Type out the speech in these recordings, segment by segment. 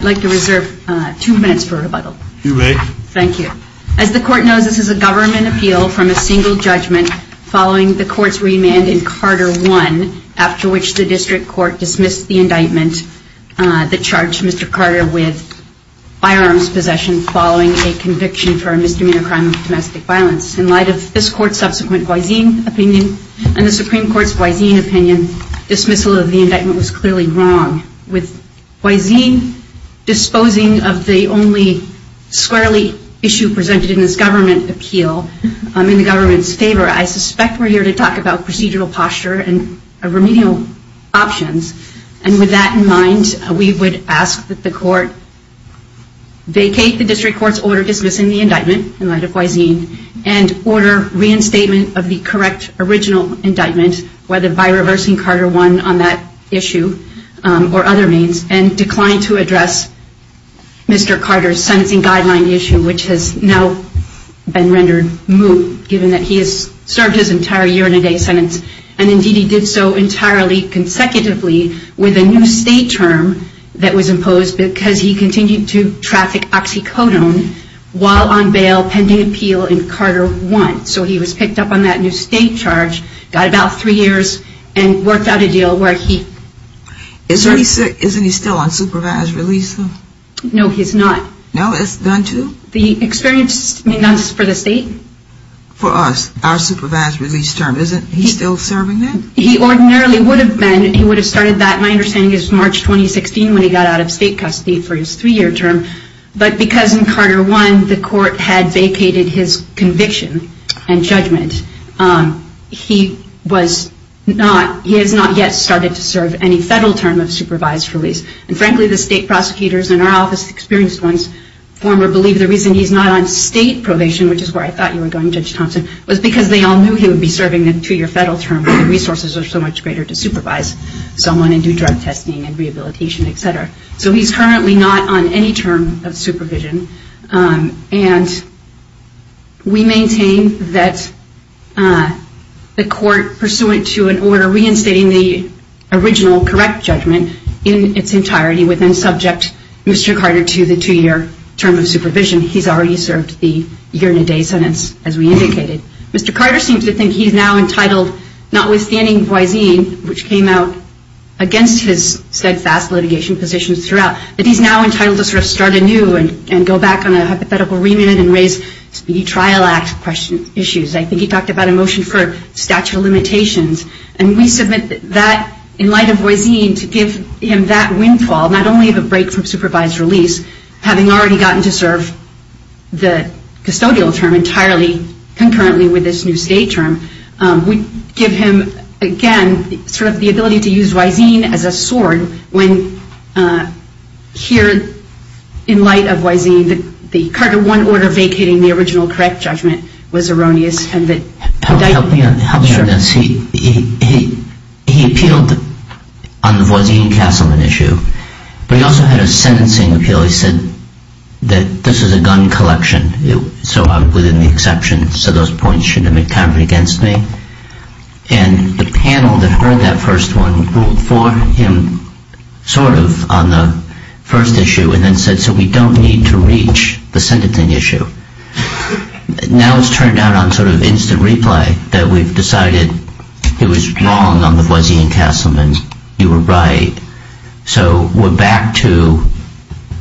I'd like to reserve two minutes for rebuttal. You may. Thank you. As the Court knows, this is a government appeal from a single judgment following the Court's remand in Carter I, after which the District Court dismissed the indictment that charged Mr. Carter with firearms possession following a conviction for a misdemeanor crime of domestic violence. In light of this Court's subsequent Guaizin opinion and the Supreme Court's Guaizin opinion, dismissal of the indictment was clearly wrong. With Guaizin disposing of the only squarely issue presented in this government appeal in the government's favor, I suspect we're here to talk about procedural posture and remedial options. And with that in mind, we would ask that the Court vacate the District Court's order dismissing the indictment in light of Guaizin and order reinstatement of the correct original indictment, whether by reversing Carter I on that issue or other means, and decline to address Mr. Carter's sentencing guideline issue, which has now been rendered moot, given that he has served his entire year-and-a-day sentence. And indeed, he did so entirely consecutively with a new state term that was imposed because he continued to traffic oxycodone while on bail pending appeal in Carter I. So he was picked up on that new state charge, got about three years, and worked out a deal where he... Isn't he still on supervised release? No, he's not. No? That's done too? The experience is done for the state? For us. Our supervised release term. Isn't he still serving that? He ordinarily would have been. He would have started that, my understanding is, March 2016, when he got out of state custody for his three-year term. But because in Carter I, the Court had vacated his conviction. And judgment, he has not yet started to serve any federal term of supervised release. And frankly, the state prosecutors in our office, experienced ones, former, believe the reason he's not on state probation, which is where I thought you were going, Judge Thompson, was because they all knew he would be serving a two-year federal term where the resources are so much greater to supervise someone and do drug testing and rehabilitation, et cetera. So he's currently not on any term of supervision. And we maintain that the Court, pursuant to an order reinstating the original correct judgment in its entirety, would then subject Mr. Carter to the two-year term of supervision. He's already served the year-and-a-day sentence, as we indicated. Mr. Carter seems to think he's now entitled, notwithstanding Boise, which came out against his steadfast litigation positions throughout, that he's now entitled to sort of start anew and go back on a hypothetical remit and raise speedy trial act issues. I think he talked about a motion for statute of limitations. And we submit that, in light of Boise, to give him that windfall, not only of a break from supervised release, having already gotten to serve the custodial term entirely, concurrently with this new state term, we give him, again, sort of the ability to use Boise as a sword to cut through when, here, in light of Boise, the Carter 1 order vacating the original correct judgment was erroneous. And that... Help me on this. He appealed on the Boise and Castleman issue, but he also had a sentencing appeal. He said that this was a gun collection, so I'm within the exception, so those points shouldn't have been covered against me. And the panel that heard that first one ruled for him, sort of, on the first issue, and then said, so we don't need to reach the sentencing issue. Now it's turned out, on sort of instant replay, that we've decided it was wrong on the Boise and Castleman, you were right, so we're back to,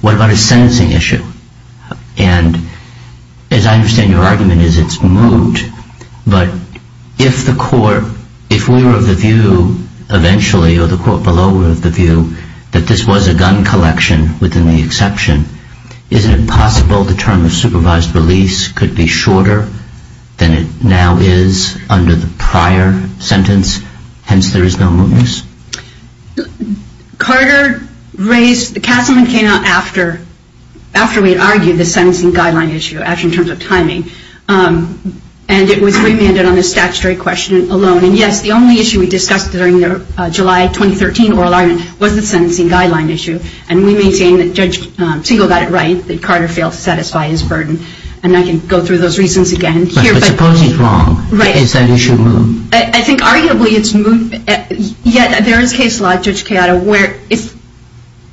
what about a sentencing issue? And, as I understand your argument, it's moot, but if the court, if we were of the view, eventually, or the court below were of the view, that this was a gun collection within the exception, isn't it possible the term of supervised release could be shorter than it now is under the prior sentence, hence there is no mootness? Carter raised, Castleman came out after, after we had argued the sentencing guideline issue, actually in terms of timing, and it was remanded on the statutory question alone, and yes, the only issue we discussed during the July 2013 oral argument was the sentencing guideline issue, and we maintain that Judge Segal got it right, that Carter failed to satisfy his burden, and I can go through those reasons again here, but But suppose he's wrong. Right. Is that issue moot? I think arguably it's moot, yet there is case law, Judge Keada, where if,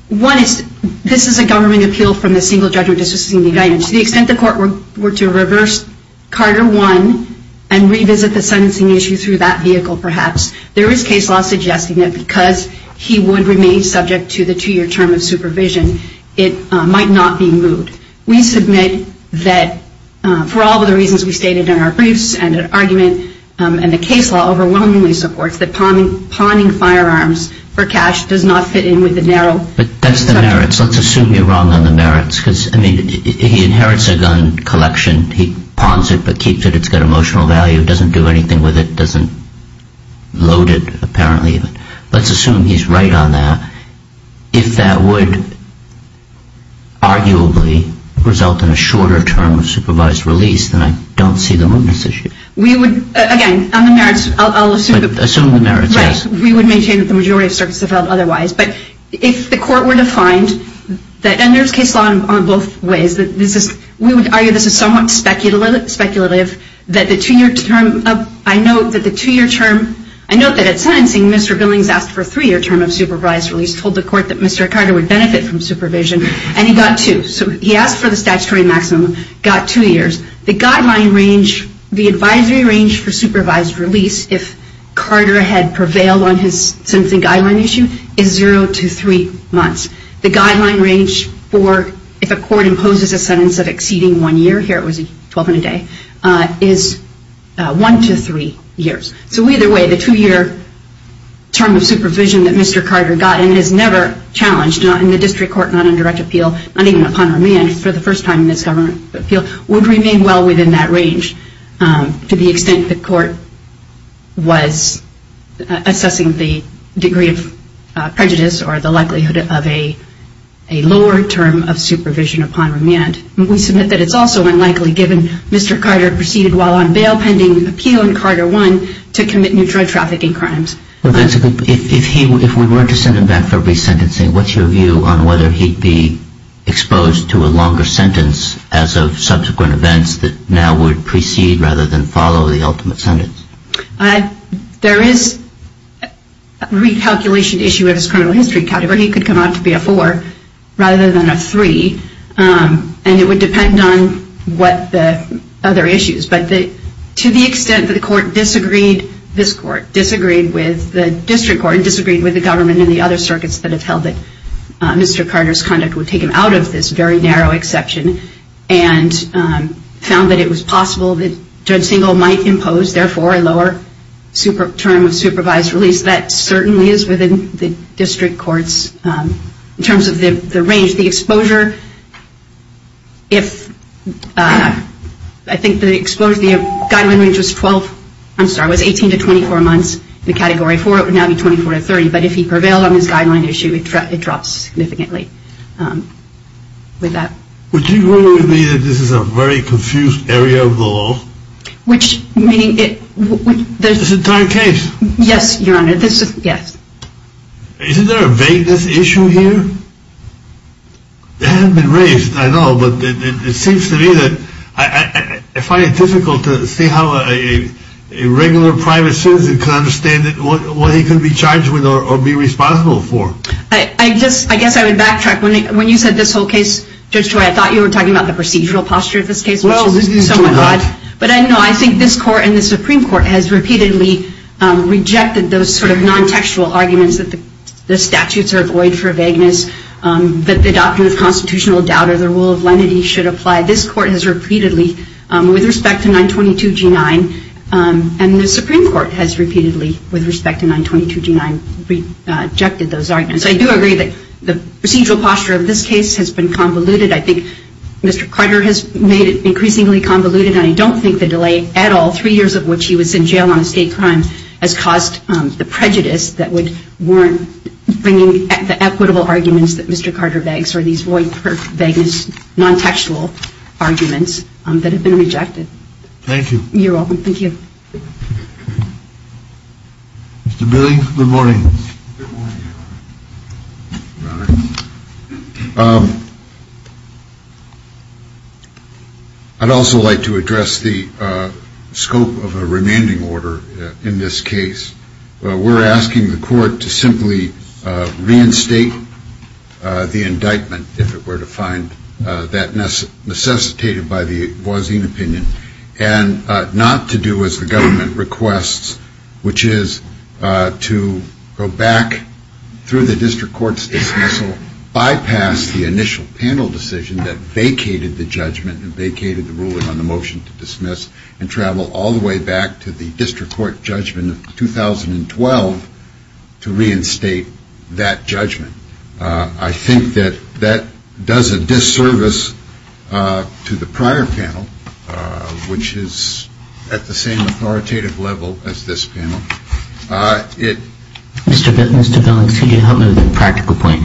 one is, this is a government appeal from a single judgment, to the extent the court were to reverse Carter one and revisit the sentencing issue through that vehicle, perhaps, there is case law suggesting that because he would remain subject to the two-year term of supervision, it might not be moot. We submit that, for all of the reasons we stated in our briefs and in our argument, and the case law overwhelmingly supports, that pawning firearms for cash does not fit in with the narrow- But that's the merits, let's assume you're wrong on the merits, because, I mean, he inherits a gun collection, he pawns it, but keeps it, it's got emotional value, doesn't do anything with it, doesn't load it, apparently, let's assume he's right on that, if that would, arguably, result in a shorter term of supervised release, then I don't see the mootness issue. We would, again, on the merits, I'll assume the merits, yes, we would maintain that the majority of circuits have held otherwise, but if the court were to find that, and there's case law on both ways, that this is, we would argue this is somewhat speculative, that the two-year term of, I note that the two-year term, I note that at sentencing, Mr. Billings asked for a three-year term of supervised release, told the court that Mr. Carter would benefit from supervision, and he got two. So he asked for the statutory maximum, got two years. The guideline range, the advisory range for supervised release, if Carter had prevailed on his sentencing guideline issue, is zero to three months. The guideline range for, if a court imposes a sentence of exceeding one year, here it was 12 and a day, is one to three years. So either way, the two-year term of supervision that Mr. Carter got, and is never challenged, not in the district court, not in direct appeal, not even upon remand, for the first time in this government appeal, would remain well within that range, to the extent the court was assessing the degree of prejudice, or the likelihood of a lower term of supervision upon remand. We submit that it's also unlikely, given Mr. Carter proceeded while on bail, pending appeal, and Carter won, to commit new drug trafficking crimes. If we were to send him back for resentencing, what's your view on whether he'd be exposed to a longer sentence, as of subsequent events, that now would precede, rather than follow, the ultimate sentence? There is a recalculation issue of his criminal history category. He could come out to be a four, rather than a three, and it would depend on what the other issues. But to the extent that he disagreed with the district court, and disagreed with the government and the other circuits that have held that Mr. Carter's conduct would take him out of this very narrow exception, and found that it was possible that Judge Singel might impose, therefore, a lower term of supervised release, that certainly is within the district court's, in terms of the range. The exposure, if, I think the exposure, the guideline range was 12, I'm sorry, was 18 to 24 months, the category for it would now be 24 to 30, but if he prevailed on his guideline issue, it dropped significantly with that. Would you agree with me that this is a very confused area of the law? Which, meaning, it, there's... This entire case? Yes, Your Honor, this is, yes. Isn't there a vagueness issue here? It hasn't been raised, I know, but it seems to me that I find it difficult to see how a regular private citizen can understand what he can be charged with, or be responsible for. I just, I guess I would backtrack. When you said this whole case, Judge Joy, I thought you were talking about the procedural posture of this case, which is somewhat odd, but no, I think this court and the Supreme Court has repeatedly rejected those sort of non-textual arguments that the statutes are void for vagueness, that the doctrine of constitutional doubt or the rule of lenity should apply. This court has repeatedly, with respect to 922 G9, and the Supreme Court has repeatedly, with respect to 922 G9, rejected those arguments. I do agree that the procedural posture of this case has been convoluted. I think Mr. Carter has made it increasingly convoluted, and I don't think the delay at all, three years of which he was in jail on estate crimes, has caused the prejudice that would warrant bringing the equitable arguments that Mr. Carter begs, or these void for vagueness non-textual arguments that have been rejected. Thank you. You're welcome. Thank you. Mr. Billings, good morning. Good morning, Your Honor. Your Honor. I'd also like to address the scope of a remanding order in this case. We're asking the court to simply reinstate the indictment if it were to find that necessitated by the Voisin opinion, and not to do as the government requests, which is to go back through the district court's dismissal, bypass the initial panel decision that vacated the judgment and vacated the ruling on the motion to dismiss, and travel all the way back to the district court judgment in 2012 to reinstate that judgment. I think that that does a disservice to the prior panel, which is at the same authoritative level as this panel. Mr. Billings, could you help me with a practical point?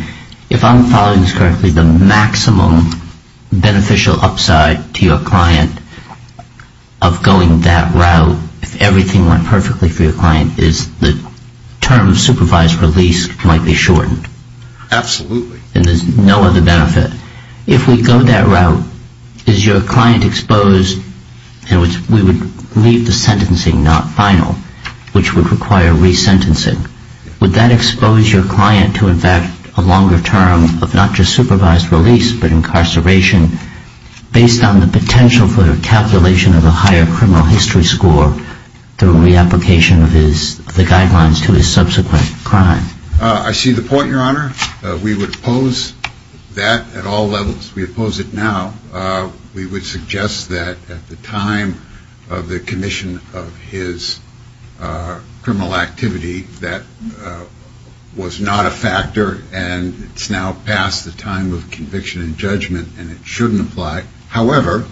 If I'm following this correctly, the maximum beneficial upside to your client of going that route if everything went perfectly for your client is the term of supervised release might be shortened. Absolutely. And there's no other benefit. If we go that route, is your client exposed, and we would leave the sentencing not final, which would require resentencing, would that expose your client to, in fact, a longer term of not just supervised release, but incarceration based on the potential for the calculation of a higher criminal history score through reapplication of the guidelines to his subsequent crime? I see the point, Your Honor. We would oppose that at all levels. We oppose it now. We would suggest that at the time of the commission of his criminal activity, that was not a factor, and it's now past the time of conviction and judgment, and it shouldn't apply. However,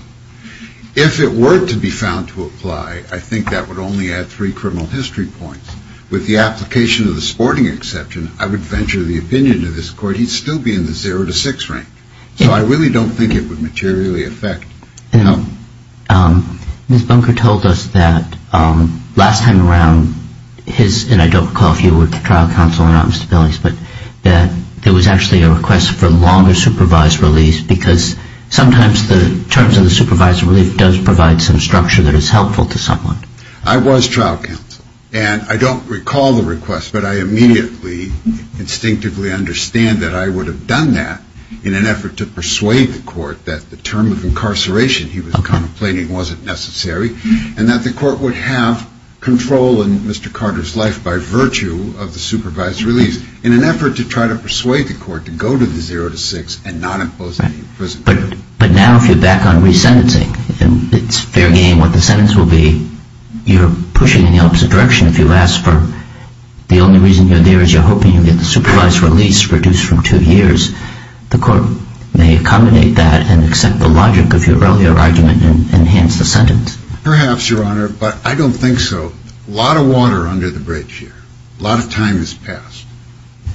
if it were to be found to apply, I think that would only add three criminal history points. With the application of the sporting exception, I would venture the opinion of this Court, he'd still be in the zero to six rank. So I really don't think it would materially affect. Ms. Bunker told us that last time around his, and I don't recall if you were at the trial council or not, Mr. Billings, but that there was actually a request for longer supervised release, because sometimes the terms of the supervised release does provide some structure that is helpful to someone. I was trial counsel, and I don't recall the request, but I immediately instinctively understand that I would have done that in an effort to persuade the Court that the term of incarceration he was complaining wasn't necessary, and that the Court would have control in Mr. Carter's life by virtue of the supervised release, in an effort to try to persuade the Court to go to the zero to six and not impose any imprisonment. But now if you're back on resentencing, it's fair game what the sentence will be. You're pushing in the opposite direction. If you ask for the only reason you're there is you're hoping you get the supervised release reduced from two years, the Court may accommodate that and accept the logic of your earlier argument and enhance the sentence. Perhaps, Your Honor, but I don't think so. A lot of water under the bridge here. A lot of time has passed.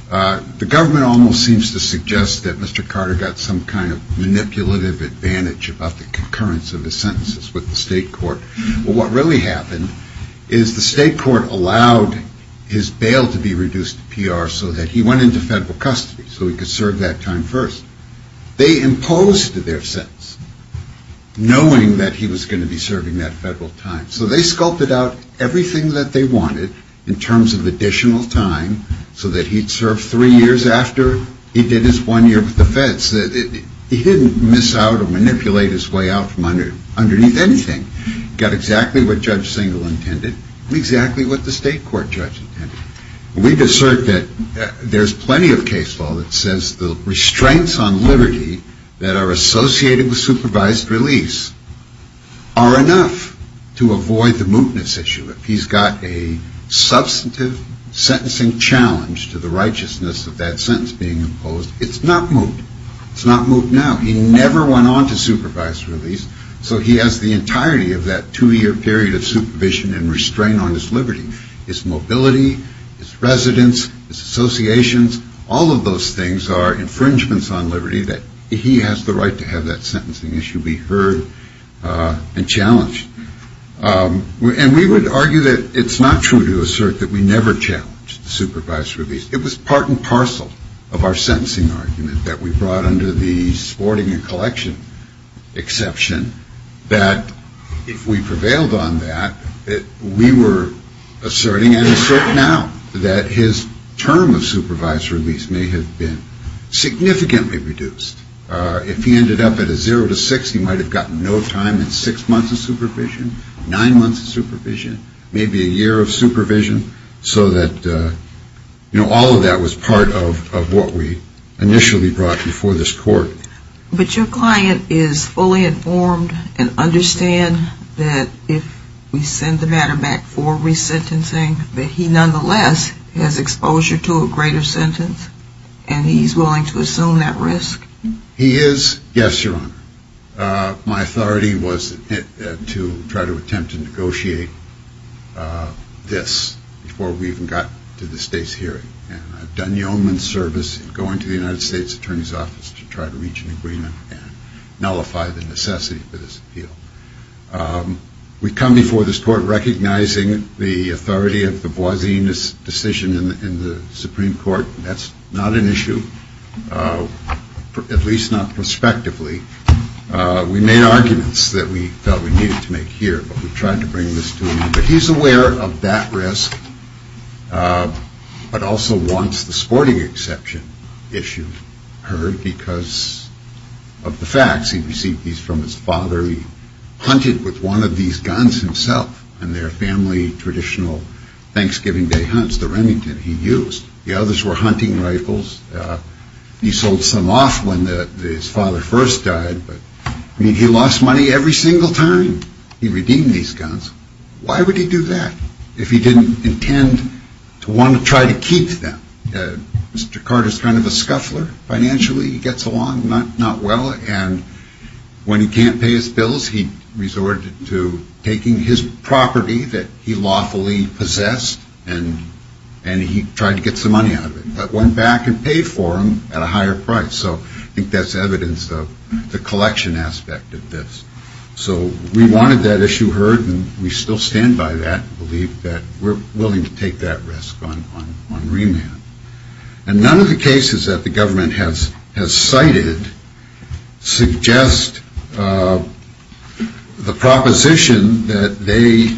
The government almost seems to suggest that Mr. Carter got some kind of manipulative advantage about the concurrence of his sentences with the state court. Well, what really happened is the state court allowed his bail to be reduced to PR so that he went into federal custody, so he could serve that time first. They imposed their sentence knowing that he was going to be serving that federal time. So they sculpted out everything that they wanted in terms of additional time so that he'd serve three years after he did his one year with the feds. He didn't miss out or manipulate his way out from underneath anything. He got exactly what Judge Singel intended and exactly what the state court judge intended. We've asserted that there's plenty of case law that says the restraints on liberty that are associated with supervised release are enough to avoid the mootness issue. If he's got a substantive sentencing challenge to the righteousness of that sentence being imposed, it's not moot. It's not moot now. He never went on to supervised release, so he has the entirety of that two year period of supervision and restraint on his liberty. His mobility, his residence, his associations, all of those things are infringements on liberty that he has the right to have that sentencing issue be heard and challenged. And we would argue that it's not true to assert that we never challenged supervised release. It was part and parcel of our sentencing argument that we brought under the sporting and collection exception that if we prevailed on that, that we were asserting and assert now that his term of supervised release may have been significantly reduced. If he ended up at a zero to six, he might have gotten no time in six months of supervision, nine months of supervision, maybe a year of supervision, so that, you know, all of that was part of what we initially brought before this court. But your client is fully informed and understand that if we send the matter back for resentencing that he nonetheless has exposure to a greater sentence and he's willing to assume that risk? He is, yes, Your Honor. My authority was to try to attempt to negotiate this before we even got to the state's hearing. And I've done yeoman's service in going to the United States Attorney's Office to try to reach an agreement and nullify the necessity for this appeal. We've come before this court recognizing the authority of the Boisina's decision in the Supreme Court. That's not an issue, at least not prospectively. We made arguments that we felt we needed to make here, but we tried to bring this to him. But he's aware of that risk, but also wants the sporting exception issue heard because of the facts. He received these from his father. He hunted with one of these guns himself in their family traditional Thanksgiving Day hunts, the Remington he used. The others were hunting rifles. He sold some off when his father first died, but, I mean, he lost money every single time he redeemed these guns. Why would he do that if he didn't intend to want to try to keep them? Mr. Carter is kind of a scuffler financially. He gets along not well. And when he can't pay his bills, he resorted to taking his property that he lawfully possessed and he tried to get some money out of it, but went back and paid for them at a higher price. So I think that's evidence of the collection aspect of this. So we wanted that issue heard and we still stand by that and believe that we're willing to take that risk on remand. And none of the cases that the government has cited suggest the proposition that they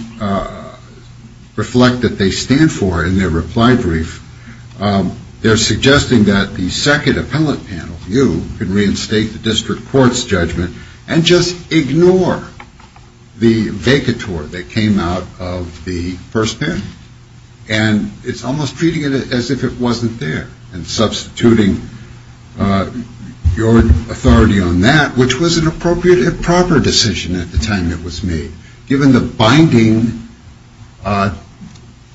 reflect that they stand for in their reply brief. They're suggesting that the second appellate panel, you, can reinstate the district court's judgment and just ignore the vacatur that came out of the first panel. And it's almost treating it as if it wasn't there and substituting your authority on that, which was an appropriate and proper decision at the time it was made, given the binding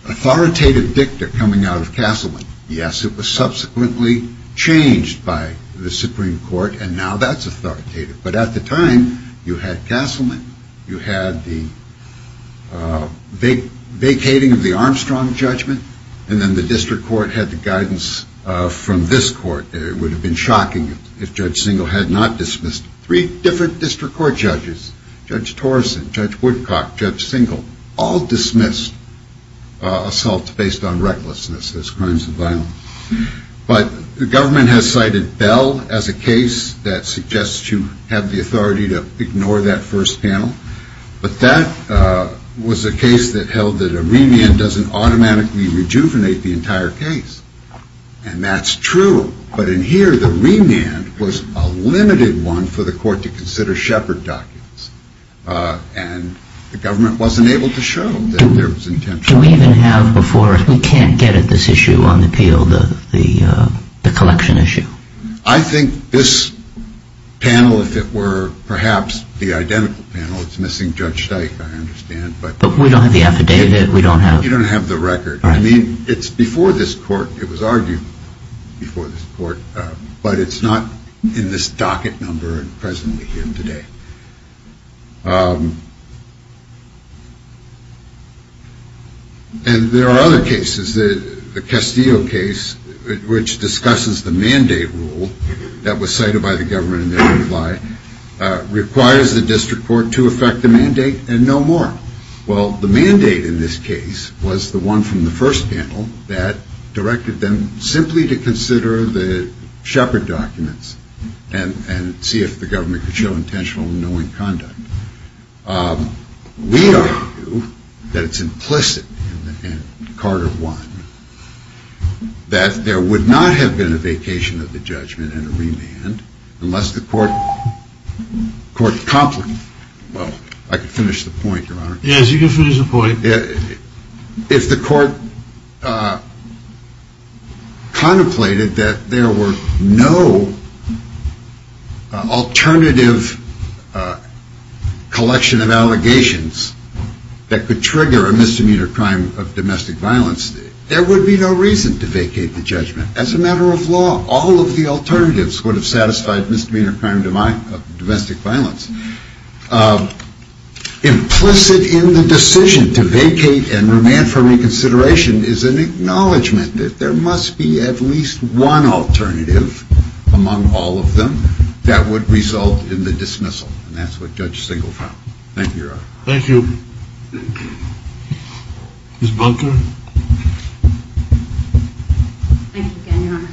authoritative dicta coming out of Castleman. Yes, it was subsequently changed by the Supreme Court and now that's authoritative, but at the time you had Castleman, you had the vacating of the Armstrong judgment, and then the district court had the guidance from this court. It would have been shocking if Judge Singel had not dismissed three different district court judges. Judge Torson, Judge Woodcock, Judge Singel, all dismissed assaults based on recklessness as crimes of violence. But the government has cited Bell as a case that suggests you have the authority to ignore that first panel, but that was a case that held that a remand doesn't automatically rejuvenate the entire case. And that's true, but in here the remand was a limited one for the court to consider Shepard documents, and the government wasn't able to show that there was intention. Do we even have before us, we can't get at this issue on the Peel, the collection issue? I think this panel, if it were perhaps the identical panel, it's missing Judge Steik, I understand. But we don't have the affidavit, we don't have... You don't have the record. I mean, it's before this court, it was argued before this court, but it's not in this docket number and presently here today. And there are other cases. The Castillo case, which discusses the mandate rule that was cited by the government in their reply, requires the district court to affect the mandate and no more. Well, the mandate in this case was the one from the first panel that directed them simply to consider the Shepard documents and see if the government could show intentional knowing conduct. We argue that it's implicit in Carter 1 that there would not have been a vacation of the judgment and a remand unless the court... Well, I could finish the point, Your Honor. Yes, you can finish the point. If the court contemplated that there were no alternative... collection of allegations that could trigger a misdemeanor crime of domestic violence, there would be no reason to vacate the judgment. As a matter of law, all of the alternatives would have satisfied misdemeanor crime of domestic violence. Implicit in the decision to vacate and remand for reconsideration is an acknowledgement that there must be at least one alternative among all of them that would result in the dismissal. And that's what Judge Singleton found. Thank you, Your Honor. Thank you. Ms. Bunker? Thank you, again, Your Honor.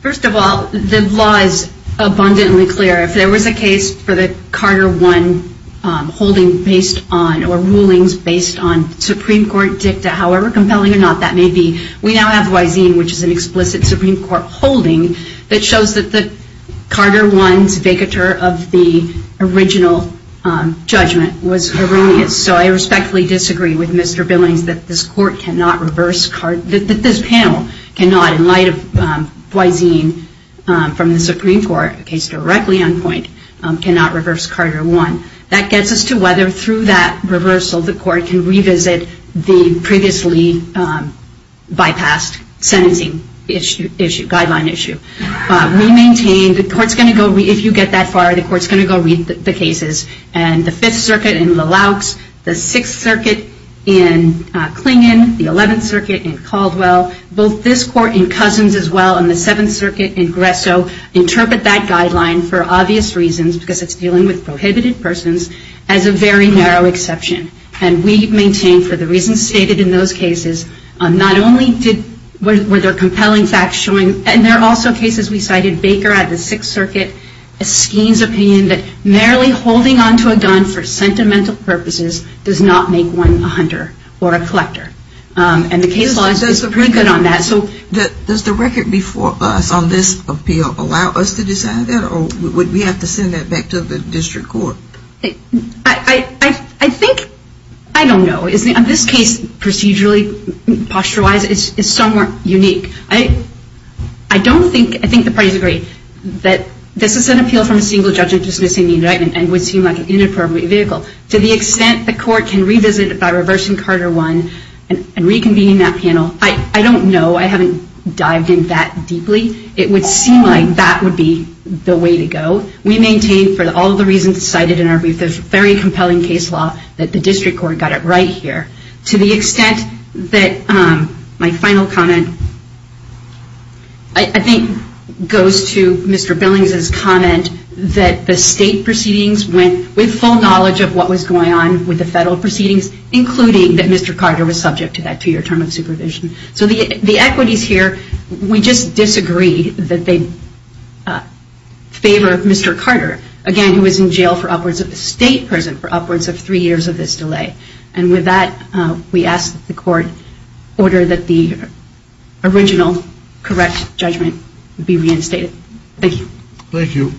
First of all, the law is abundantly clear. If there was a case for the Carter 1 holding based on or rulings based on Supreme Court dicta, however there is no explicit Supreme Court holding that shows that the Carter 1's vacatur of the original judgment was erroneous. So I respectfully disagree with Mr. Billings that this panel cannot, in light of Thoisine from the Supreme Court, a case directly on point, cannot reverse Carter 1. That gets us to whether through that reversal the court can revisit the previously bypassed sentencing issue, guideline issue. We maintain the court's going to go, if you get that far, the court's going to go read the cases. And the 5th Circuit in LaLaukes, the 6th Circuit in Clingin, the 11th Circuit in Caldwell, both this court in Cousins as well and the 7th Circuit in Gresso interpret that guideline for obvious reasons, because it's dealing with prohibited persons, as a very narrow exception. And we maintain for the reasons stated in those cases, not only were there compelling facts showing, and there are also cases we cited, Baker at the 6th Circuit, Eskeen's opinion that merely holding onto a gun for sentimental purposes does not make one a hunter or a collector. And the case law is pretty good on that. Does the record before us on this appeal allow us to decide that, or would we have to send that back to the district court? I think, I don't know. In this case, procedurally, posture-wise, it's somewhat unique. I don't think, I think the parties agree that this is an appeal from a single judge dismissing the indictment and would seem like an inappropriate vehicle. To the extent the court can revisit it by reversing Carter 1 and reconvening that panel, I don't know. I haven't dived in that deeply. It would seem like that would be the way to go. We maintain, for all the reasons cited in our brief, it's a very compelling case law that the district court got it right here. To the extent that my final comment, I think, goes to Mr. Billings' comment that the state proceedings went with full knowledge of what was going on with the federal proceedings, including that Mr. Carter was subject to that two-year term of supervision. So the equities here, we just disagree that they favor Mr. Carter, again, who was in jail for upwards of a state prison for upwards of three years of this delay. And with that, we ask that the court order that the original correct judgment be reinstated. Thank you. Thank you.